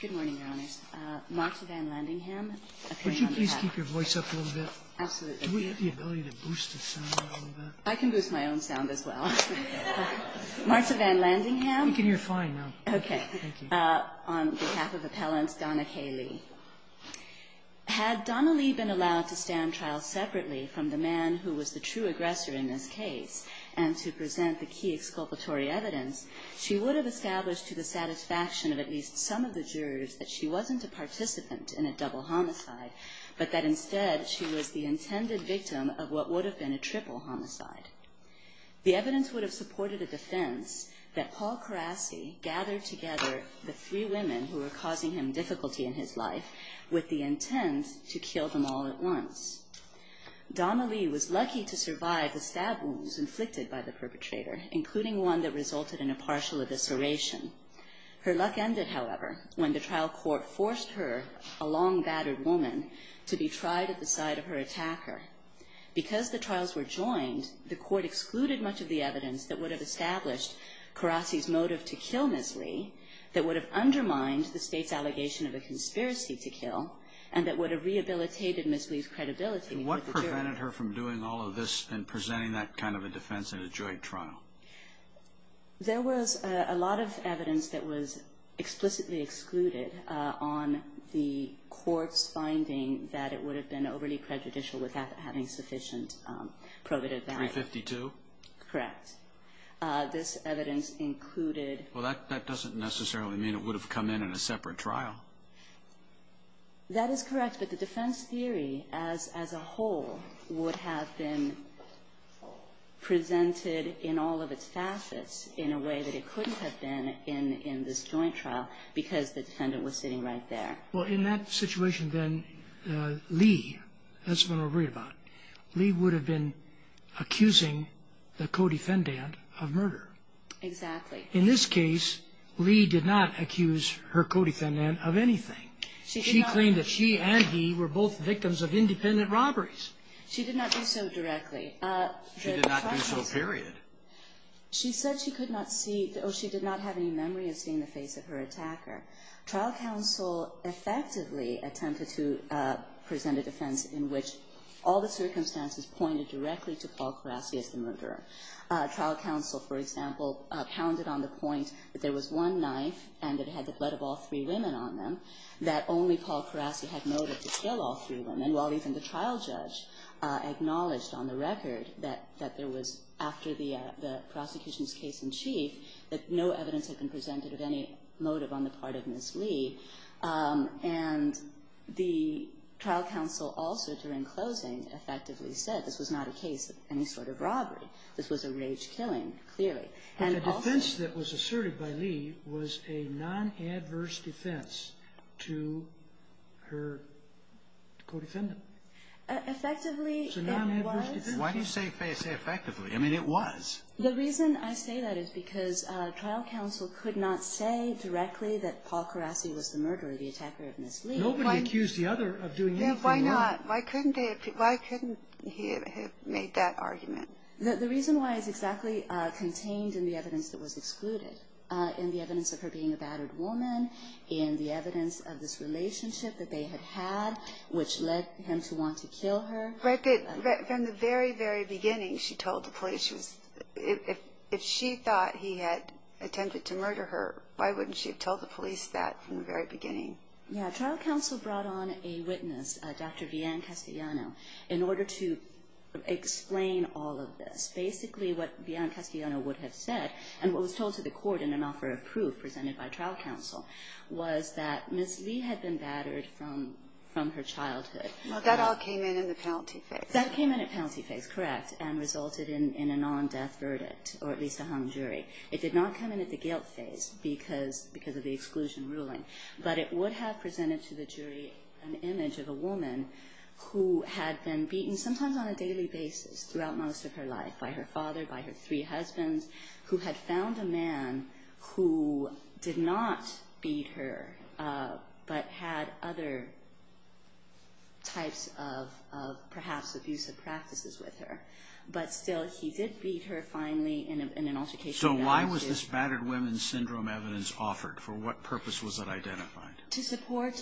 Good morning, Your Honors. Marcia Van Landingham, Appeal on behalf of Appellant Donna K. Lee. Had Donna Lee been allowed to stand trial separately from the man who was the true aggressor in this case and to present the key exculpatory evidence, she would have established to the satisfaction of at least some of the jurors that she wasn't a participant in a double homicide, but that instead she was the intended victim of what would have been a triple homicide. The evidence would have supported a defense that Paul Karasie gathered together the three women who were causing him difficulty in his life with the intent to kill them all at once. Donna Lee was lucky to survive the stab wounds inflicted by the perpetrator, including one that resulted in a partial evisceration. Her luck ended, however, when the trial court forced her, a long-battered woman, to be tried at the side of her attacker. Because the trials were joined, the court excluded much of the evidence that would have established Karasie's motive to kill Ms. Lee, that would have undermined the State's allegation of a conspiracy to kill, and that would have rehabilitated Ms. Lee's credibility with the jury. And what prevented her from doing all of this and presenting that kind of a defense in a joint trial? There was a lot of evidence that was explicitly excluded on the court's finding that it would have been overly prejudicial without having sufficient probative value. 352? Correct. This evidence included... Well, that doesn't necessarily mean it would have come in in a separate trial. That is correct, but the defense theory as a whole would have been presented in all of its facets in a way that it couldn't have been in this joint trial, because the defendant was sitting right there. Well, in that situation, then, Lee, that's what I'm worried about, Lee would have been accusing the co-defendant of murder. Exactly. In this case, Lee did not accuse her co-defendant of anything. She claimed that she and he were both victims of independent robberies. She did not do so directly. She did not do so, period. She said she could not see, or she did not have any memory of seeing the face of her attacker. Trial counsel effectively attempted to present a defense in which all the circumstances pointed directly to Paul Karasie as the murderer. Trial counsel, for example, pounded on the point that there was one knife and that it had the blood of all three women on them, that only Paul Karasie had motive to kill all three women, while even the trial judge acknowledged on the record that there was, after the prosecution's case in chief, that no evidence had been presented of any motive on the part of Ms. Lee. And the trial counsel also, during closing, effectively said this was not a case of any sort of robbery. This was a rage killing, clearly. The defense that was asserted by Lee was a non-adverse defense to her co-defendant. Effectively, it was. Why do you say effectively? I mean, it was. The reason I say that is because trial counsel could not say directly that Paul Karasie was the murderer, the attacker of Ms. Lee. Nobody accused the other of doing anything wrong. Yeah, why not? Why couldn't he have made that argument? The reason why is exactly contained in the evidence that was excluded, in the evidence of her being a battered woman, in the evidence of this relationship that they had had, which led him to want to kill her. From the very, very beginning, she told the police, if she thought he had attempted to murder her, why wouldn't she have told the police that from the very beginning? Yeah, trial counsel brought on a witness, Dr. Vianne Castellano, in order to explain all of this. Basically, what Vianne Castellano would have said, and what was told to the court in an offer of proof presented by trial counsel, was that Ms. Lee had been battered from her childhood. Well, that all came in in the penalty phase. That came in at penalty phase, correct, and resulted in a non-death verdict, or at least a hung jury. It did not come in at the guilt phase because of the exclusion ruling, but it would have presented to the jury an image of a woman who had been beaten, sometimes on a daily basis throughout most of her life, by her father, by her three husbands, who had found a man who did not beat her, but had other types of, perhaps, abusive practices with her. But still, he did beat her, finally, in an altercation. So why was this battered women's syndrome evidence offered? For what purpose was it identified? To support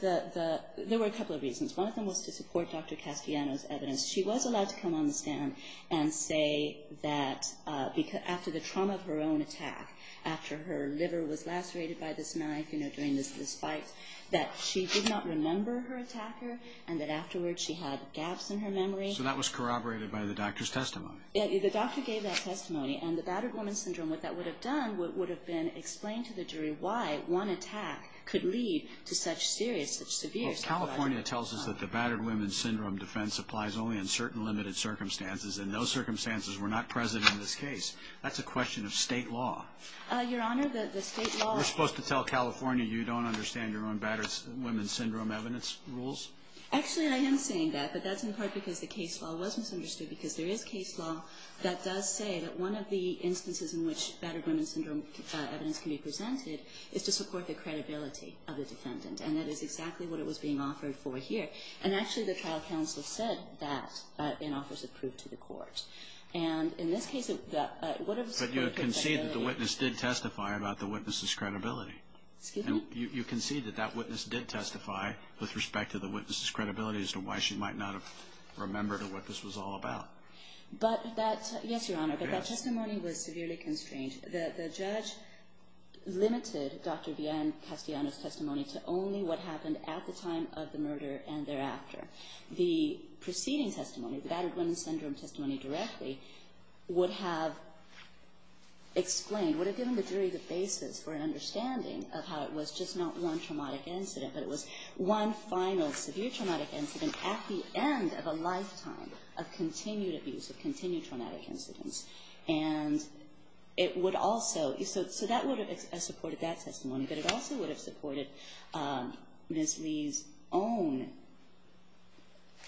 the, there were a couple of reasons. One of them was to support Dr. Castellano's evidence. She was allowed to come on the stand and say that after the trauma of her own attack, after her liver was lacerated by this knife, you know, during this fight, that she did not remember her attacker, and that afterwards she had gaps in her memory. So that was corroborated by the doctor's testimony. The doctor gave that testimony, and the battered women's syndrome, what that would have done, would have been explained to the jury why one attack could lead to such serious, such severe... Well, California tells us that the battered women's syndrome defense applies only in certain limited circumstances, and those circumstances were not present in this case. That's a question of state law. Your Honor, the state law... We're supposed to tell California you don't understand your own battered women's syndrome evidence rules? Actually, I am saying that, but that's in part because the case law was misunderstood, because there is case law that does say that one of the instances in which battered women's syndrome evidence can be presented is to support the credibility of the defendant, and that is exactly what it was being offered for here. And actually, the trial counsel said that in offers approved to the court. And in this case... But you concede that the witness did testify about the witness's credibility. Excuse me? You concede that that witness did testify with respect to the witness's credibility as to why she might not have remembered what this was all about. But that... Yes, Your Honor, but that testimony was severely constrained. The judge limited Dr. Deanne Castellano's testimony to only what happened at the time of the murder and thereafter. The preceding testimony, the battered women's syndrome testimony directly, would have explained, would have given the jury the basis for an understanding of how it was just not one traumatic incident, but it was one final severe traumatic incident at the end of a lifetime of continued abuse, of continued traumatic incidents. And it would also... So that would have supported that testimony, but it also would have supported Ms. Lee's own...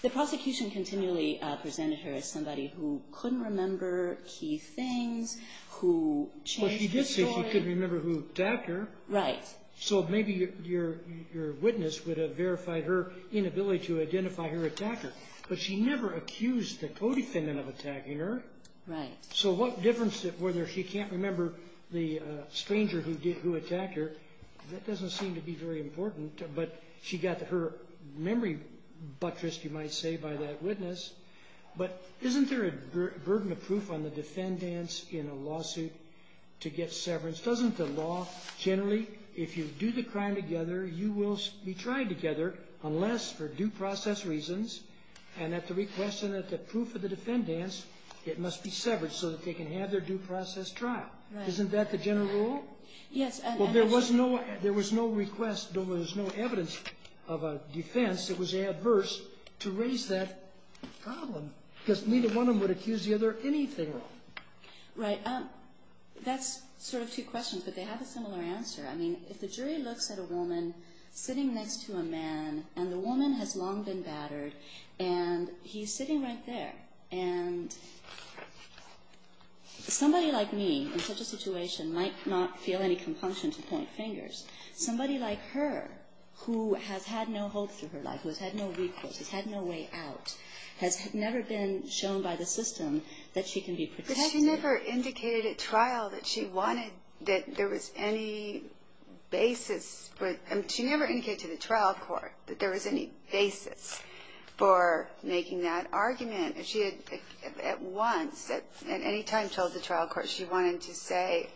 The prosecution continually presented her as somebody who couldn't remember key things, who changed the story... But she did say she couldn't remember who attacked her. Right. So maybe your witness would have verified her inability to identify her attacker. But she never accused the co-defendant of attacking her. Right. So what difference... Whether she can't remember the stranger who attacked her, that doesn't seem to be very important. But she got her memory buttressed, you might say, by that witness. But isn't there a burden of proof on the defendants in a lawsuit to get severance? Doesn't the law generally, if you do the crime together, you will be tried together unless for due process reasons and at the request and at the proof of the defendants, it must be severed so that they can have their due process trial. Right. Isn't that the general rule? Yes. Well, there was no request. There was no evidence of a defense that was adverse to raise that problem because neither one of them would accuse the other anything wrong. Right. That's sort of two questions, but they have a similar answer. I mean, if the jury looks at a woman sitting next to a man, and the woman has long been battered, and he's sitting right there, and somebody like me in such a situation might not feel any compunction to point fingers. Somebody like her who has had no hope through her life, who has had no recourse, has had no way out, has never been shown by the system that she can be protected. But she never indicated at trial that she wanted that there was any basis. She never indicated to the trial court that there was any basis for making that argument. At once, at any time she told the trial court she wanted to say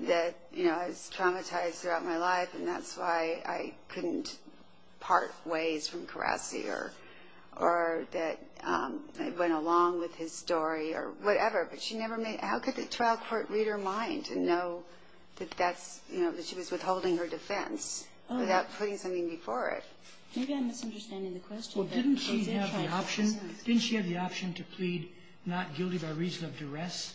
that, you know, I was traumatized throughout my life, and that's why I couldn't part ways from Karassi or that I went along with his story or whatever. But how could the trial court read her mind to know that she was withholding her defense without putting something before it? Maybe I'm misunderstanding the question. Well, didn't she have the option to plead not guilty by reason of duress?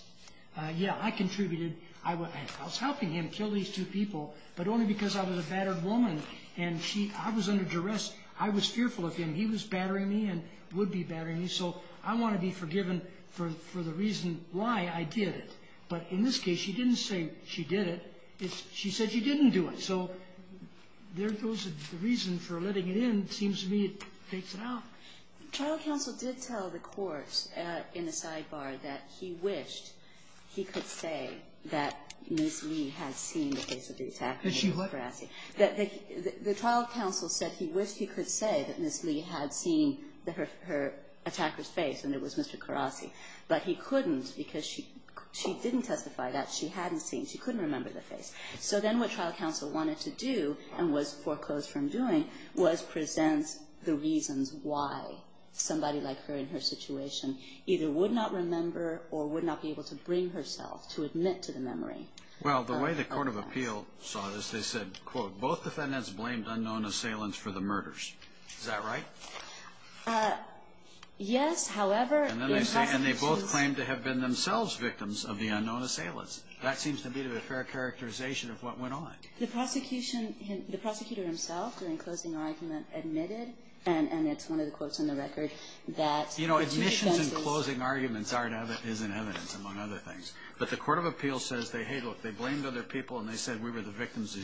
Yeah, I contributed. I was helping him kill these two people, but only because I was a battered woman. And I was under duress. I was fearful of him. He was battering me and would be battering me, so I want to be forgiven for the reason why I did it. But in this case, she didn't say she did it. She said she didn't do it. So there goes the reason for letting it in. It seems to me it takes it out. The trial counsel did tell the court in a sidebar that he wished he could say that Ms. Lee had seen the face of the attack. That she what? Mr. Karasi. The trial counsel said he wished he could say that Ms. Lee had seen her attacker's face, and it was Mr. Karasi. But he couldn't because she didn't testify that. She hadn't seen. She couldn't remember the face. So then what trial counsel wanted to do and was foreclosed from doing was present the reasons why somebody like her in her situation either would not remember or would not be able to bring herself to admit to the memory. Well, the way the Court of Appeal saw this, they said, quote, both defendants blamed unknown assailants for the murders. Is that right? Yes, however. And they both claimed to have been themselves victims of the unknown assailants. That seems to me to be a fair characterization of what went on. The prosecutor himself, during closing argument, admitted, and it's one of the quotes on the record, that the two defenses. You know, admissions and closing arguments is in evidence, among other things. But the Court of Appeal says, hey, look, they blamed other people, and they said we were the victims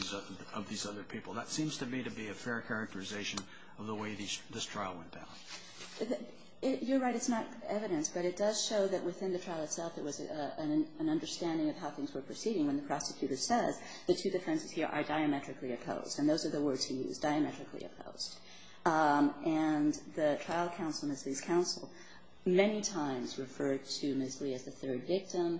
of these other people. That seems to me to be a fair characterization of the way this trial went down. You're right. It's not evidence. But it does show that within the trial itself, it was an understanding of how things were proceeding when the prosecutor says the two defenses here are diametrically opposed. And those are the words he used, diametrically opposed. And the trial counsel, Ms. Lee's counsel, many times referred to Ms. Lee as the third victim.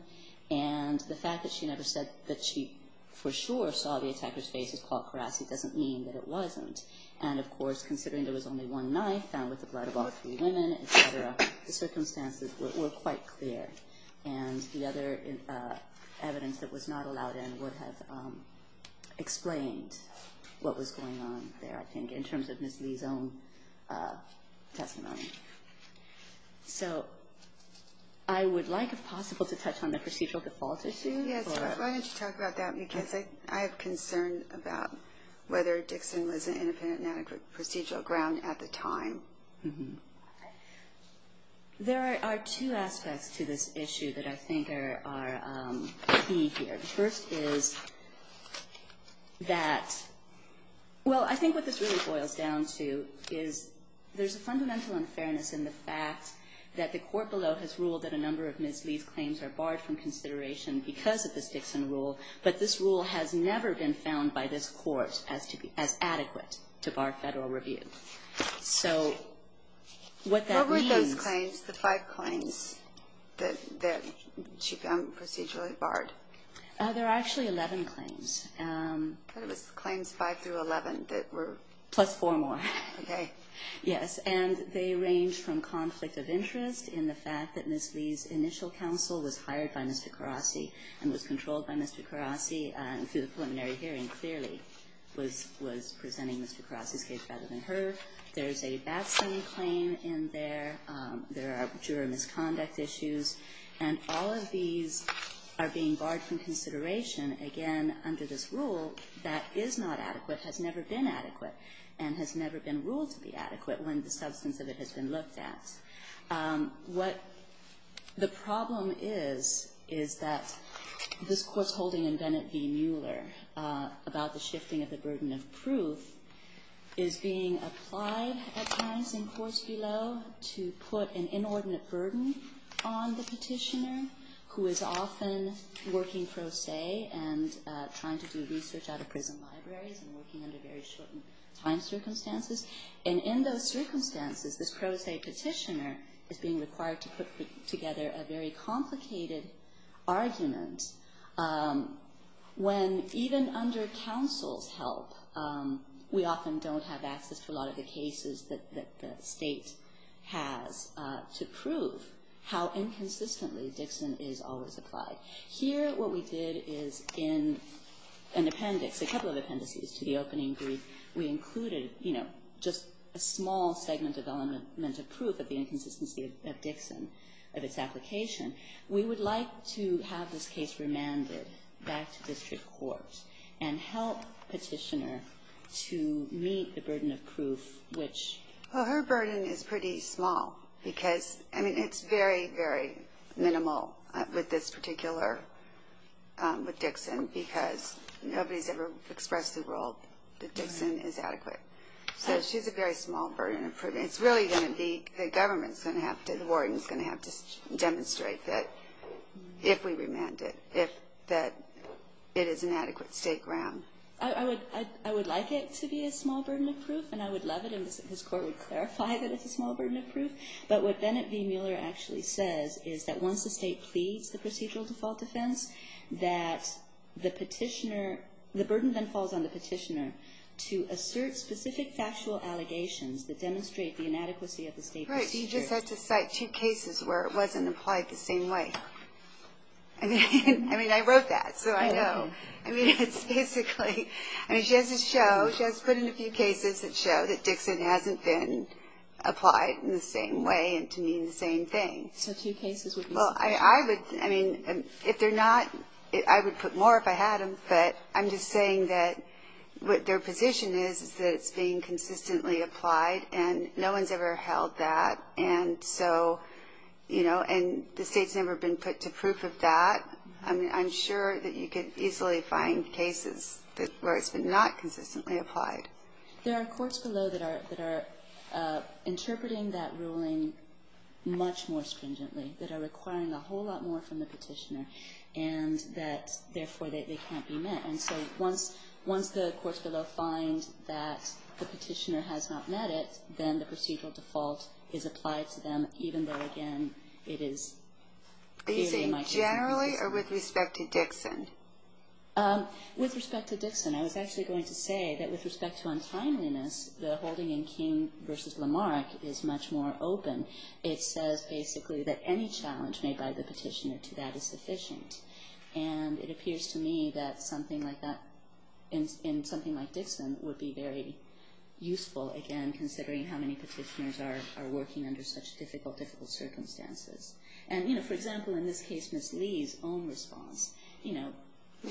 And the fact that she never said that she for sure saw the attacker's face as called Karassi doesn't mean that it wasn't. And of course, considering there was only one knife found with the blood of all three women, et cetera, the circumstances were quite clear. And the other evidence that was not allowed in would have explained what was going on there, I think. In terms of Ms. Lee's own testimony. So I would like, if possible, to touch on the procedural default issue. Yes. Why don't you talk about that? Because I have concern about whether Dixon was an independent and adequate procedural ground at the time. There are two aspects to this issue that I think are key here. The first is that, well, I think what this really boils down to is there's a fundamental unfairness in the fact that the court below has ruled that a number of Ms. Lee's claims are barred from consideration because of this Dixon rule. But this rule has never been found by this court as adequate to bar Federal review. So what that means What were those claims, the five claims that she found procedurally barred? There are actually 11 claims. Claims five through 11 that were? Plus four more. Okay. Yes. And they range from conflict of interest in the fact that Ms. Lee's initial counsel was hired by Mr. Karasi and was controlled by Mr. Karasi through the preliminary hearing clearly was presenting Mr. Karasi's case rather than her. There's a Batson claim in there. There are juror misconduct issues. And all of these are being barred from consideration, again, under this rule that is not adequate, has never been adequate, and has never been ruled to be adequate when the substance of it has been looked at. What the problem is, is that this Court's holding in Bennett v. Mueller about the shifting of the burden of proof is being applied at times in courts below to put an open petitioner who is often working pro se and trying to do research out of prison libraries and working under very short time circumstances. And in those circumstances, this pro se petitioner is being required to put together a very complicated argument when even under counsel's help, we often don't have access to a lot of the cases that the State has to prove how inconsistently Dixon is always applied. Here, what we did is in an appendix, a couple of appendices to the opening brief, we included, you know, just a small segment of element of proof of the inconsistency of Dixon, of its application. We would like to have this case remanded back to district court and help petitioner to meet the burden of proof, which... Well, her burden is pretty small because, I mean, it's very, very minimal with this particular, with Dixon because nobody's ever expressed the world that Dixon is adequate. So she's a very small burden of proof. It's really going to be, the government's going to have to, the warden's going to have to demonstrate that if we remand it, that it is an adequate State ground. I would like it to be a small burden of proof, and I would love it if this court would clarify that it's a small burden of proof. But what Bennett v. Mueller actually says is that once the State pleads the procedural default defense, that the petitioner, the burden then falls on the petitioner to assert specific factual allegations that demonstrate the inadequacy of the State procedure. Right. You just had to cite two cases where it wasn't applied the same way. I mean, I wrote that, so I know. I mean, it's basically, I mean, she has to show, she has to put in a few cases that show that Dixon hasn't been applied in the same way and to mean the same thing. So two cases would be sufficient. Well, I would, I mean, if they're not, I would put more if I had them. But I'm just saying that what their position is is that it's being consistently applied, and no one's ever held that. And so, you know, and the State's never been put to proof of that. I mean, I'm sure that you could easily find cases where it's been not consistently applied. There are courts below that are interpreting that ruling much more stringently, that are requiring a whole lot more from the petitioner, and that, therefore, they can't be met. And so once the courts below find that the petitioner has not met it, then the procedural default is applied to them, even though, again, it is giving much more consistency. Are you saying generally or with respect to Dixon? With respect to Dixon, I was actually going to say that with respect to untimeliness, the holding in King v. Lamarck is much more open. It says basically that any challenge made by the petitioner to that is sufficient. And it appears to me that something like that in something like Dixon would be very useful, again, considering how many petitioners are working under such difficult, difficult circumstances. And, you know, for example, in this case, Ms. Lee's own response, you know.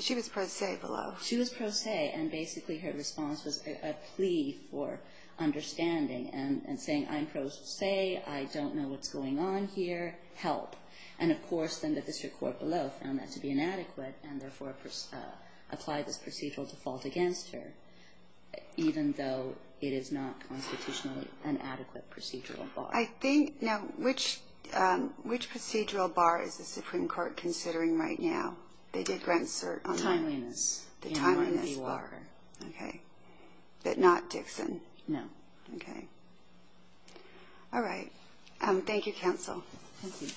She was pro se below. She was pro se, and basically her response was a plea for understanding and saying, I'm pro se, I don't know what's going on here, help. And, of course, then the district court below found that to be inadequate and, therefore, applied this procedural default against her, even though it is not constitutionally an adequate procedural bar. I think, now, which procedural bar is the Supreme Court considering right now? They did grant cert on that. Timeliness. The timeliness bar. Okay. But not Dixon? No. Okay. All right. Thank you, counsel. Thank you.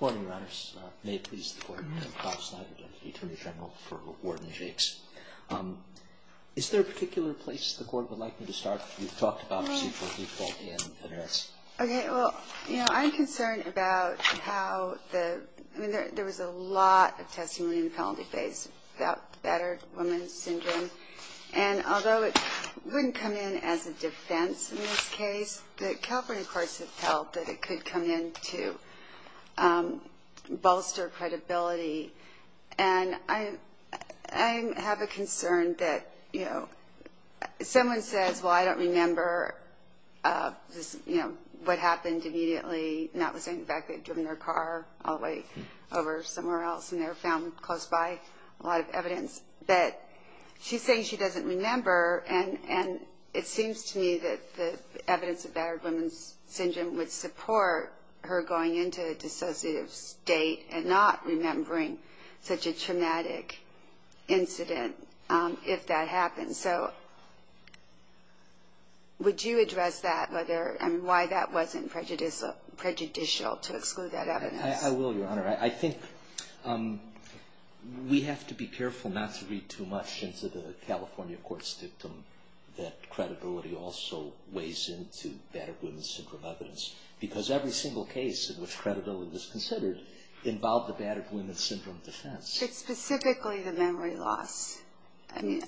Good morning, Your Honors. May it please the Court, I'm Bob Snyder, Deputy Attorney General for Warden Jacques. Is there a particular place the Court would like me to start? You've talked about procedural default and errors. Okay. Well, you know, I'm concerned about how the – I mean, there was a lot of testimony in the penalty phase about battered woman syndrome. And although it wouldn't come in as a defense in this case, the California courts have felt that it could come in to bolster credibility. And I have a concern that, you know, someone says, well, I don't remember, you know, what happened immediately, notwithstanding the fact they had driven their car all the way over somewhere else and they were found close by, a lot of evidence. But she's saying she doesn't remember, and it seems to me that the evidence of syndrome would support her going into a dissociative state and not remembering such a traumatic incident if that happened. So would you address that, whether – I mean, why that wasn't prejudicial to exclude that evidence? I will, Your Honor. I think we have to be careful not to read too much into the California court that credibility also weighs into battered woman syndrome evidence. Because every single case in which credibility was considered involved the battered woman syndrome defense. But specifically the memory loss. I mean,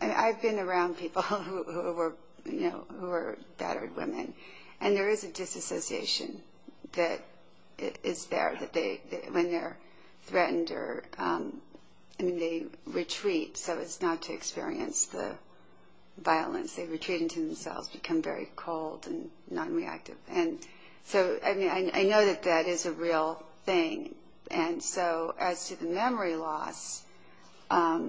I've been around people who were, you know, battered women, and there is a disassociation that is there when they're threatened or – I mean, they experience the violence. They retreat into themselves, become very cold and nonreactive. And so, I mean, I know that that is a real thing. And so as to the memory loss, I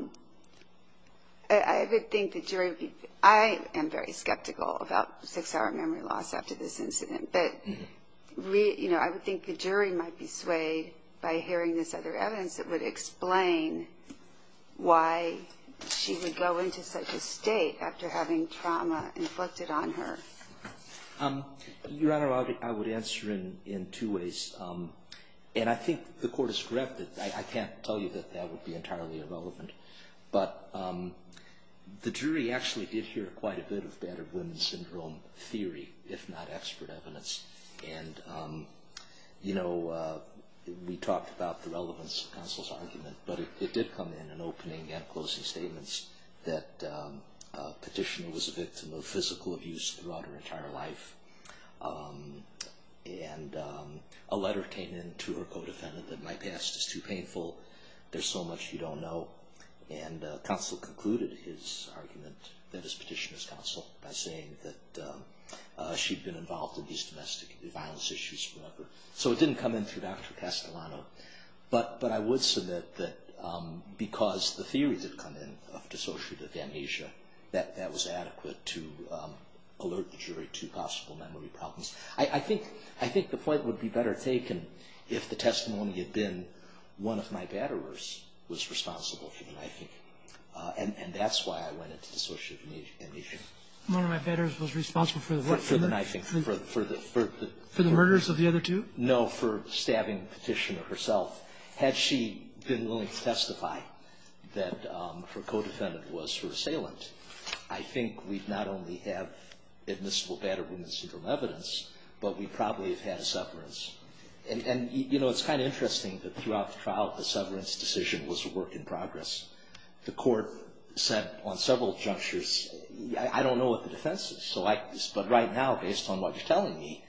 would think the jury would be – I am very skeptical about six-hour memory loss after this incident. But, you know, I would think the jury might be swayed by hearing this other state after having trauma inflicted on her. Your Honor, I would answer in two ways. And I think the court is correct that I can't tell you that that would be entirely irrelevant. But the jury actually did hear quite a bit of battered woman syndrome theory, if not expert evidence. And, you know, we talked about the relevance of counsel's argument. But it did come in an opening and closing statements that a petitioner was a victim of physical abuse throughout her entire life. And a letter came in to her co-defendant that, my past is too painful, there's so much you don't know. And counsel concluded his argument, that his petitioner's counsel, by saying that she'd been involved in these domestic violence issues forever. So it didn't come in through Dr. Castellano. But I would submit that because the theories had come in of dissociative amnesia, that that was adequate to alert the jury to possible memory problems. I think the point would be better taken if the testimony had been, one of my batterers was responsible for the knifing. And that's why I went into dissociative amnesia. One of my batterers was responsible for the what? For the knifing. For the murders of the other two? No, for stabbing the petitioner herself. Had she been willing to testify that her co-defendant was her assailant, I think we'd not only have admissible battered women syndrome evidence, but we'd probably have had a severance. And it's kind of interesting that throughout the trial, the severance decision was a work in progress. The court said on several junctures, I don't know what the defense is. But right now, based on what you're telling me,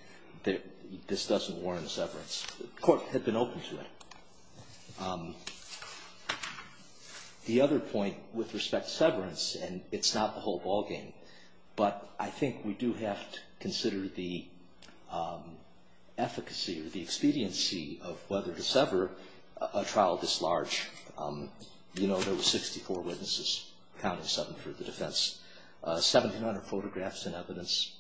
this doesn't warrant a severance. The court had been open to it. The other point with respect to severance, and it's not the whole ballgame, but I think we do have to consider the efficacy or the expediency of whether to sever a trial this large. You know, there were 64 witnesses, counting seven for the defense. 1,700 photographs and evidence.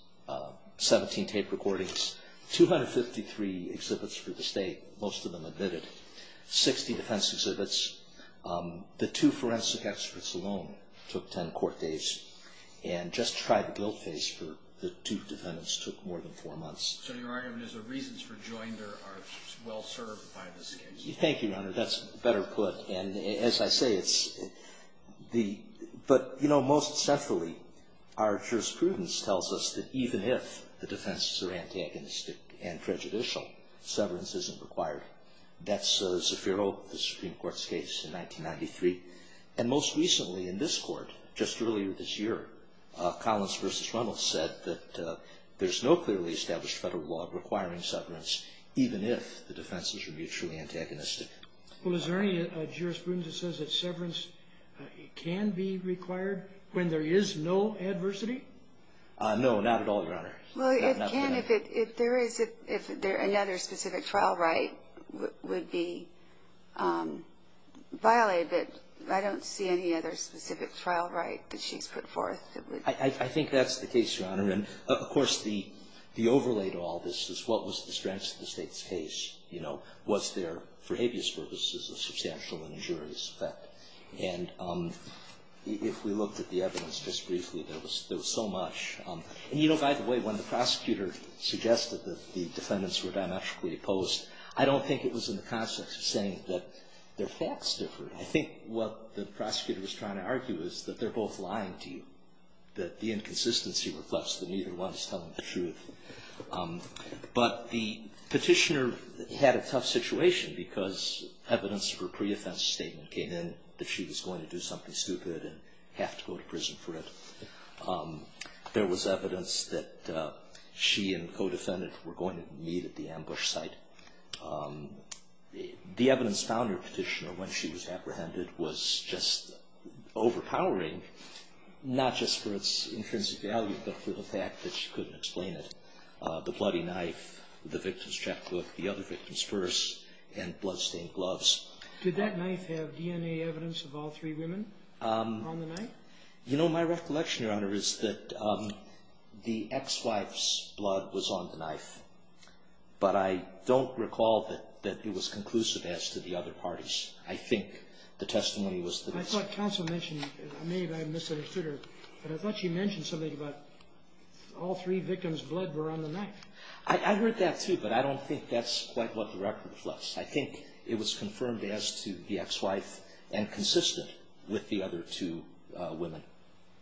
17 tape recordings. 253 exhibits for the state, most of them admitted. 60 defense exhibits. The two forensic experts alone took 10 court days. And just try the guilt phase for the two defendants took more than four months. So your argument is the reasons for joinder are well served by this case? Thank you, Your Honor. That's better put. And as I say, it's the – but, you know, most centrally, our jurisprudence tells us that even if the defenses are antagonistic and prejudicial, severance isn't required. That's Zaffiro, the Supreme Court's case in 1993. And most recently in this court, just earlier this year, Collins v. Reynolds said that there's no clearly established federal law requiring severance even if the defenses are mutually antagonistic. Well, is there any jurisprudence that says that severance can be required when there is no adversity? No, not at all, Your Honor. Well, it can if there is – if another specific trial right would be violated, but I don't see any other specific trial right that she's put forth. I think that's the case, Your Honor. And, of course, the overlay to all this is what was the strengths of the state's case. Was there, for habeas purposes, a substantial and injurious effect? And if we looked at the evidence just briefly, there was so much. And, you know, by the way, when the prosecutor suggested that the defendants were diametrically opposed, I don't think it was in the context of saying that their facts differed. I think what the prosecutor was trying to argue is that they're both lying to you, that the inconsistency reflects that neither one is telling the truth. But the petitioner had a tough situation because evidence for pre-offense statement came in that she was going to do something stupid and have to go to prison for it. There was evidence that she and the co-defendant were going to meet at the ambush site. The evidence found in the petitioner when she was apprehended was just overpowering, not just for its intrinsic value, but for the fact that she couldn't explain it. The bloody knife, the victim's checkbook, the other victim's purse, and blood-stained gloves. Did that knife have DNA evidence of all three women on the knife? You know, my recollection, Your Honor, is that the ex-wife's blood was on the knife. But I don't recall that it was conclusive as to the other parties. I think the testimony was that it was. I thought counsel mentioned, maybe I misunderstood her, but I thought she mentioned something about all three victims' blood were on the knife. I heard that, too, but I don't think that's quite what the record reflects. I think it was confirmed as to the ex-wife and consistent with the other two women.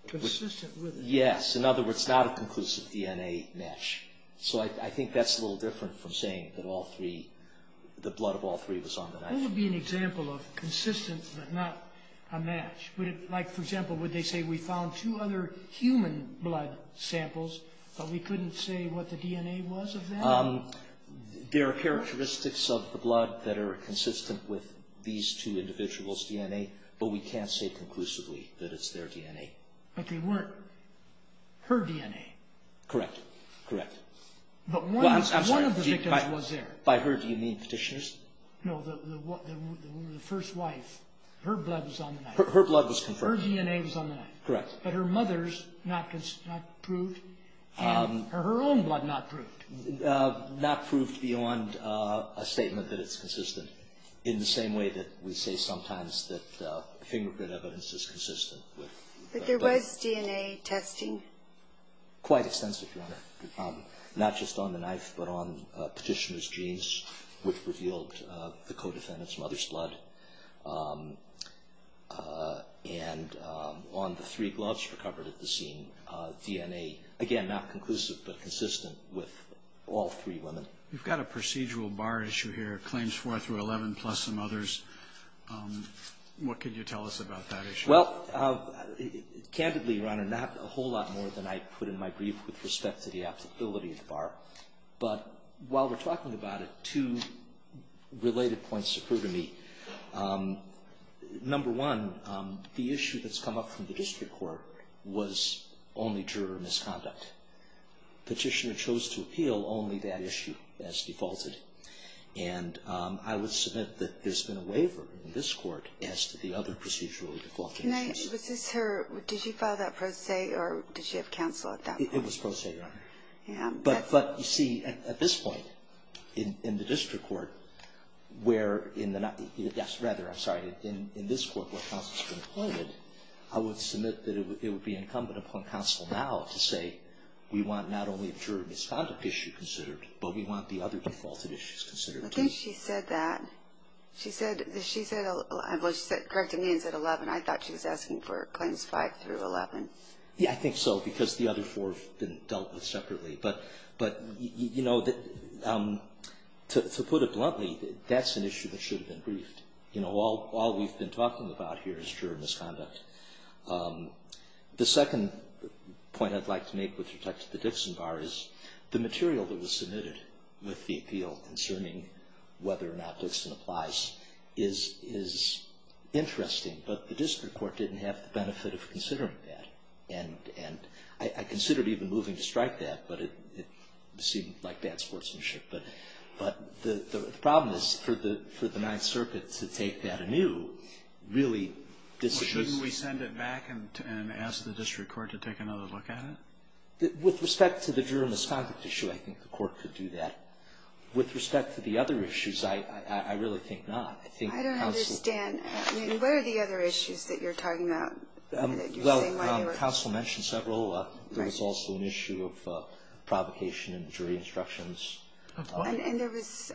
Consistent with them. Yes. In other words, not a conclusive DNA match. So I think that's a little different from saying that all three, the blood of all three was on the knife. That would be an example of consistent, but not a match. Like, for example, would they say, we found two other human blood samples, but we couldn't say what the DNA was of that? There are characteristics of the blood that are consistent with these two individuals' DNA, but we can't say conclusively that it's their DNA. But they weren't her DNA. Correct. Correct. But one of the victims was there. By her, do you mean Petitioner's? No, the first wife. Her blood was on the knife. Her blood was confirmed. Her DNA was on the knife. Correct. But her mother's not proved, and her own blood not proved. Not proved beyond a statement that it's consistent, in the same way that we say sometimes that fingerprint evidence is consistent. But there was DNA testing? Quite extensive, Your Honor. Not just on the knife, but on Petitioner's jeans, which revealed the co-defendant's mother's blood. And on the three gloves recovered at the scene, DNA. Again, not conclusive, but consistent with all three women. You've got a procedural bar issue here, claims 4 through 11, plus some others. What can you tell us about that issue? Well, candidly, Your Honor, not a whole lot more than I put in my brief with respect to the applicability of the bar. But while we're talking about it, two related points occur to me. Number one, the issue that's come up from the district court was only juror misconduct. Petitioner chose to appeal only that issue as defaulted. And I would submit that there's been a waiver in this court as to the other procedural defaulted issues. Was this her? Did she file that pro se, or did she have counsel at that point? It was pro se, Your Honor. But, you see, at this point in the district court, where in this court where counsel's been appointed, I would submit that it would be incumbent upon counsel now to say, we want not only a juror misconduct issue considered, but we want the other defaulted issues considered, too. I think she said that. She said 11. Well, she corrected me and said 11. I thought she was asking for claims 5 through 11. Yeah, I think so, because the other four have been dealt with separately. But, you know, to put it bluntly, that's an issue that should have been briefed. You know, all we've been talking about here is juror misconduct. The second point I'd like to make with respect to the Dixon bar is the material that was submitted with the appeal concerning whether or not Dixon applies is interesting, but the district court didn't have the benefit of considering that. And I considered even moving to strike that, but it seemed like bad sportsmanship. But the problem is for the Ninth Circuit to take that anew really disagrees. Well, shouldn't we send it back and ask the district court to take another look at it? With respect to the juror misconduct issue, I think the court could do that. With respect to the other issues, I really think not. I don't understand. I mean, what are the other issues that you're talking about? Well, counsel mentioned several. There was also an issue of provocation in the jury instructions. And there was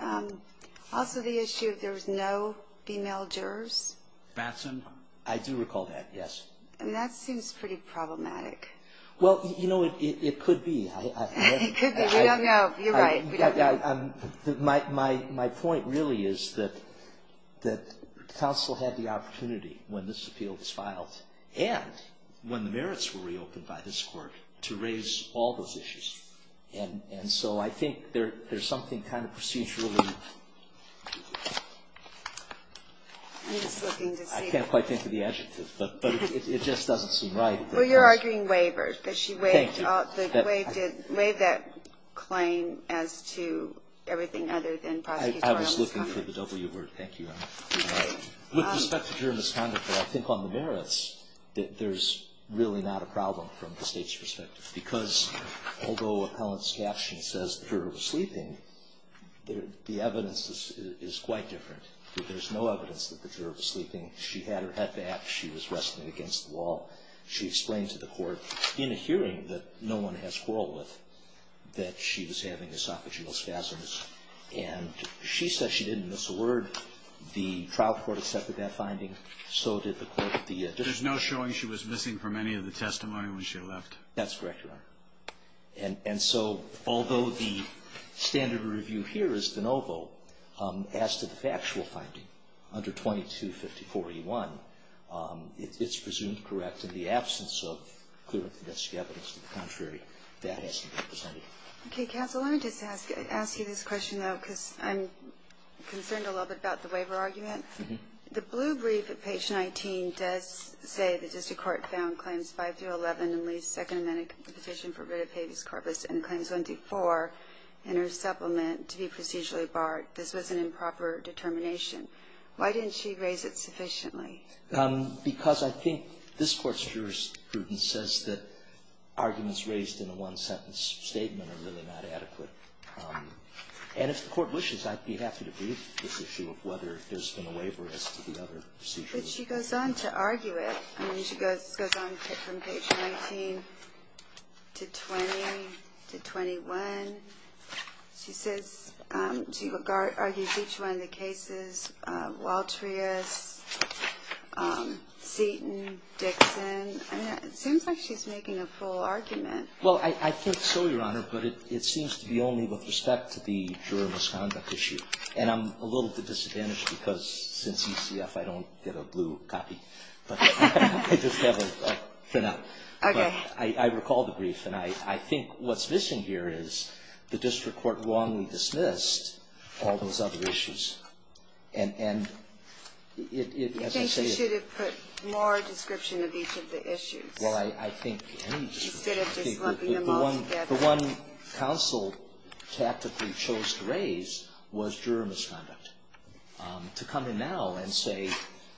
also the issue of there was no female jurors. Batson? I do recall that, yes. And that seems pretty problematic. Well, you know, it could be. It could be. We don't know. You're right. We don't know. My point really is that counsel had the opportunity when this appeal was filed and when the merits were reopened by this court to raise all those issues. And so I think there's something kind of procedurally. I'm just looking to see. I can't quite think of the adjective, but it just doesn't seem right. Well, you're arguing waivers. But she waived that claim as to everything other than prosecutorial misconduct. I was looking for the W word. Thank you, Your Honor. With respect to juror misconduct, I think on the merits, there's really not a problem from the State's perspective. Because although appellant's caption says the juror was sleeping, the evidence is quite different. There's no evidence that the juror was sleeping. She had her head back. She was resting against the wall. She explained to the court in a hearing that no one has quarrel with that she was having esophageal spasms. And she said she didn't miss a word. The trial court accepted that finding. So did the court. There's no showing she was missing from any of the testimony when she left. That's correct, Your Honor. And so although the standard review here is de novo, as to the factual finding under 2250.41, it's presumed correct in the absence of clear investigative evidence. To the contrary, that has to be presented. Okay. Counsel, let me just ask you this question, though, because I'm concerned a little bit about the waiver argument. The blue brief at page 19 does say the district court found claims 5 through 11 in Lee's second amendment petition for writ of habeas corpus and claims 1 through 4 in her supplement to be procedurally barred. But this was an improper determination. Why didn't she raise it sufficiently? Because I think this Court's jurisprudence says that arguments raised in a one-sentence statement are really not adequate. And if the Court wishes, I'd be happy to brief this issue of whether there's been a waiver as to the other procedures. But she goes on to argue it. I mean, she goes on from page 19 to 20 to 21. She says she argues each one of the cases, Waltrius, Seaton, Dixon. I mean, it seems like she's making a full argument. Well, I think so, Your Honor, but it seems to be only with respect to the juror misconduct issue. And I'm a little at a disadvantage because since ECF, I don't get a blue copy. But I just have a printout. Okay. I recall the brief, and I think what's missing here is the district court wrongly dismissed all those other issues. And it, as I say ---- I think you should have put more description of each of the issues. Well, I think any district court. Instead of just looking them all together. The one counsel tactically chose to raise was juror misconduct. To come in now and say,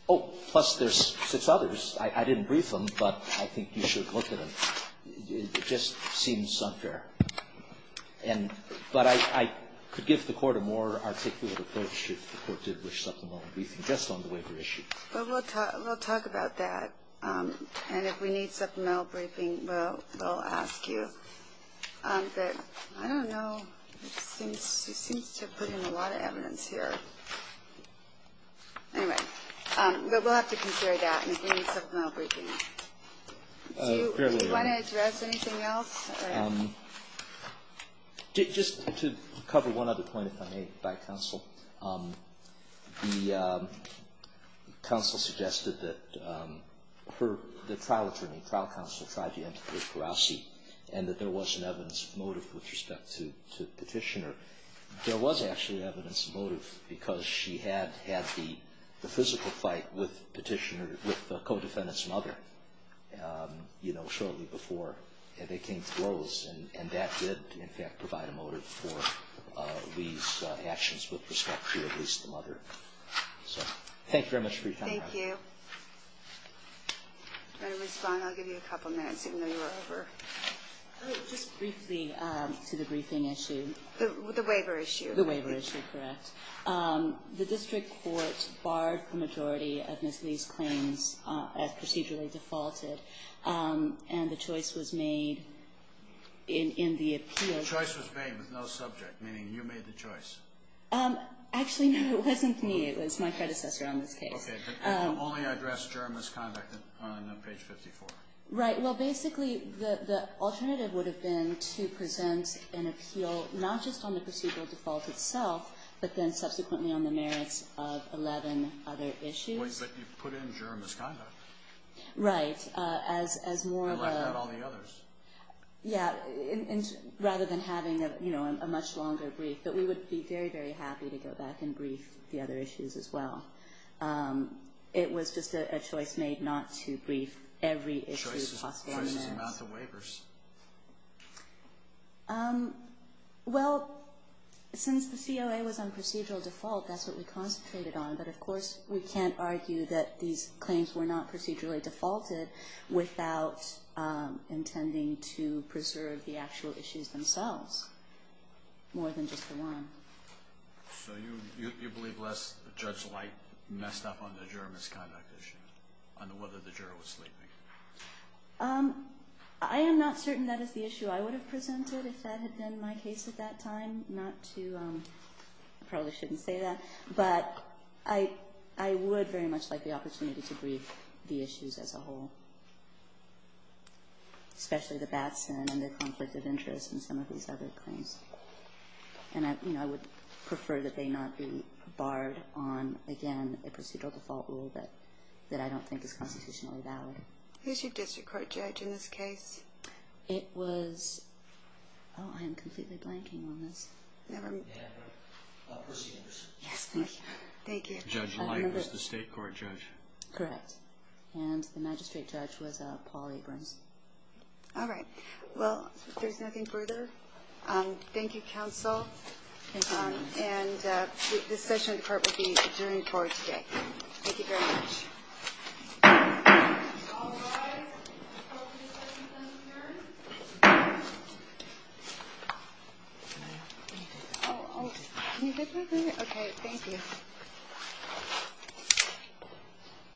oh, plus there's six others. I didn't brief them, but I think you should look at them. It just seems unfair. But I could give the Court a more articulate approach if the Court did wish supplemental briefing just on the waiver issue. Well, we'll talk about that. And if we need supplemental briefing, we'll ask you. But I don't know. It seems to put in a lot of evidence here. Anyway. But we'll have to consider that. And if we need supplemental briefing. Fairly right. Do you want to address anything else? Just to cover one other point, if I may, by counsel. The counsel suggested that her ---- the trial attorney, trial counsel tried to enter into a piracy and that there was an evidence of motive with respect to Petitioner. There was actually evidence of motive because she had had the physical fight with Petitioner ---- with the co-defendant's mother, you know, shortly before they came to blows. And that did, in fact, provide a motive for Lee's actions with respect to, at least, the mother. So thank you very much for your time. Thank you. I'll give you a couple minutes, even though you were over. Just briefly to the briefing issue. The waiver issue. The waiver issue. Correct. The district court barred the majority of Ms. Lee's claims as procedurally defaulted. And the choice was made in the appeal. The choice was made with no subject, meaning you made the choice. Actually, no. It wasn't me. It was my predecessor on this case. Okay. But only address germist conduct on page 54. Right. Well, basically, the alternative would have been to present an appeal not just on the procedural default itself, but then subsequently on the merits of 11 other issues. But you put in germist conduct. Right. As more of a ---- And left out all the others. Yeah. Rather than having, you know, a much longer brief. But we would be very, very happy to go back and brief the other issues as well. It was just a choice made not to brief every issue. Choices amount to waivers. Well, since the COA was on procedural default, that's what we concentrated on. But, of course, we can't argue that these claims were not procedurally defaulted without intending to preserve the actual issues themselves more than just the one. So you believe less Judge Light messed up on the germist conduct issue, on whether the juror was sleeping? I am not certain that is the issue I would have presented if that had been my case at that time. Not to ---- I probably shouldn't say that. But I would very much like the opportunity to brief the issues as a whole, especially the Batson and the conflict of interest and some of these other claims. And, you know, I would prefer that they not be barred on, again, a procedural default rule that I don't think is constitutionally valid. Who's your district court judge in this case? It was ---- Oh, I am completely blanking on this. Never mind. Procedures. Yes. Thank you. Judge Light was the state court judge. Correct. And the magistrate judge was Paul Abrams. All right. Well, if there's nothing further, thank you, counsel. Thank you. And this session of the court will be adjourned for today. Thank you very much. All rise. The court is adjourned. Oh, can you hit me? Okay. Thank you.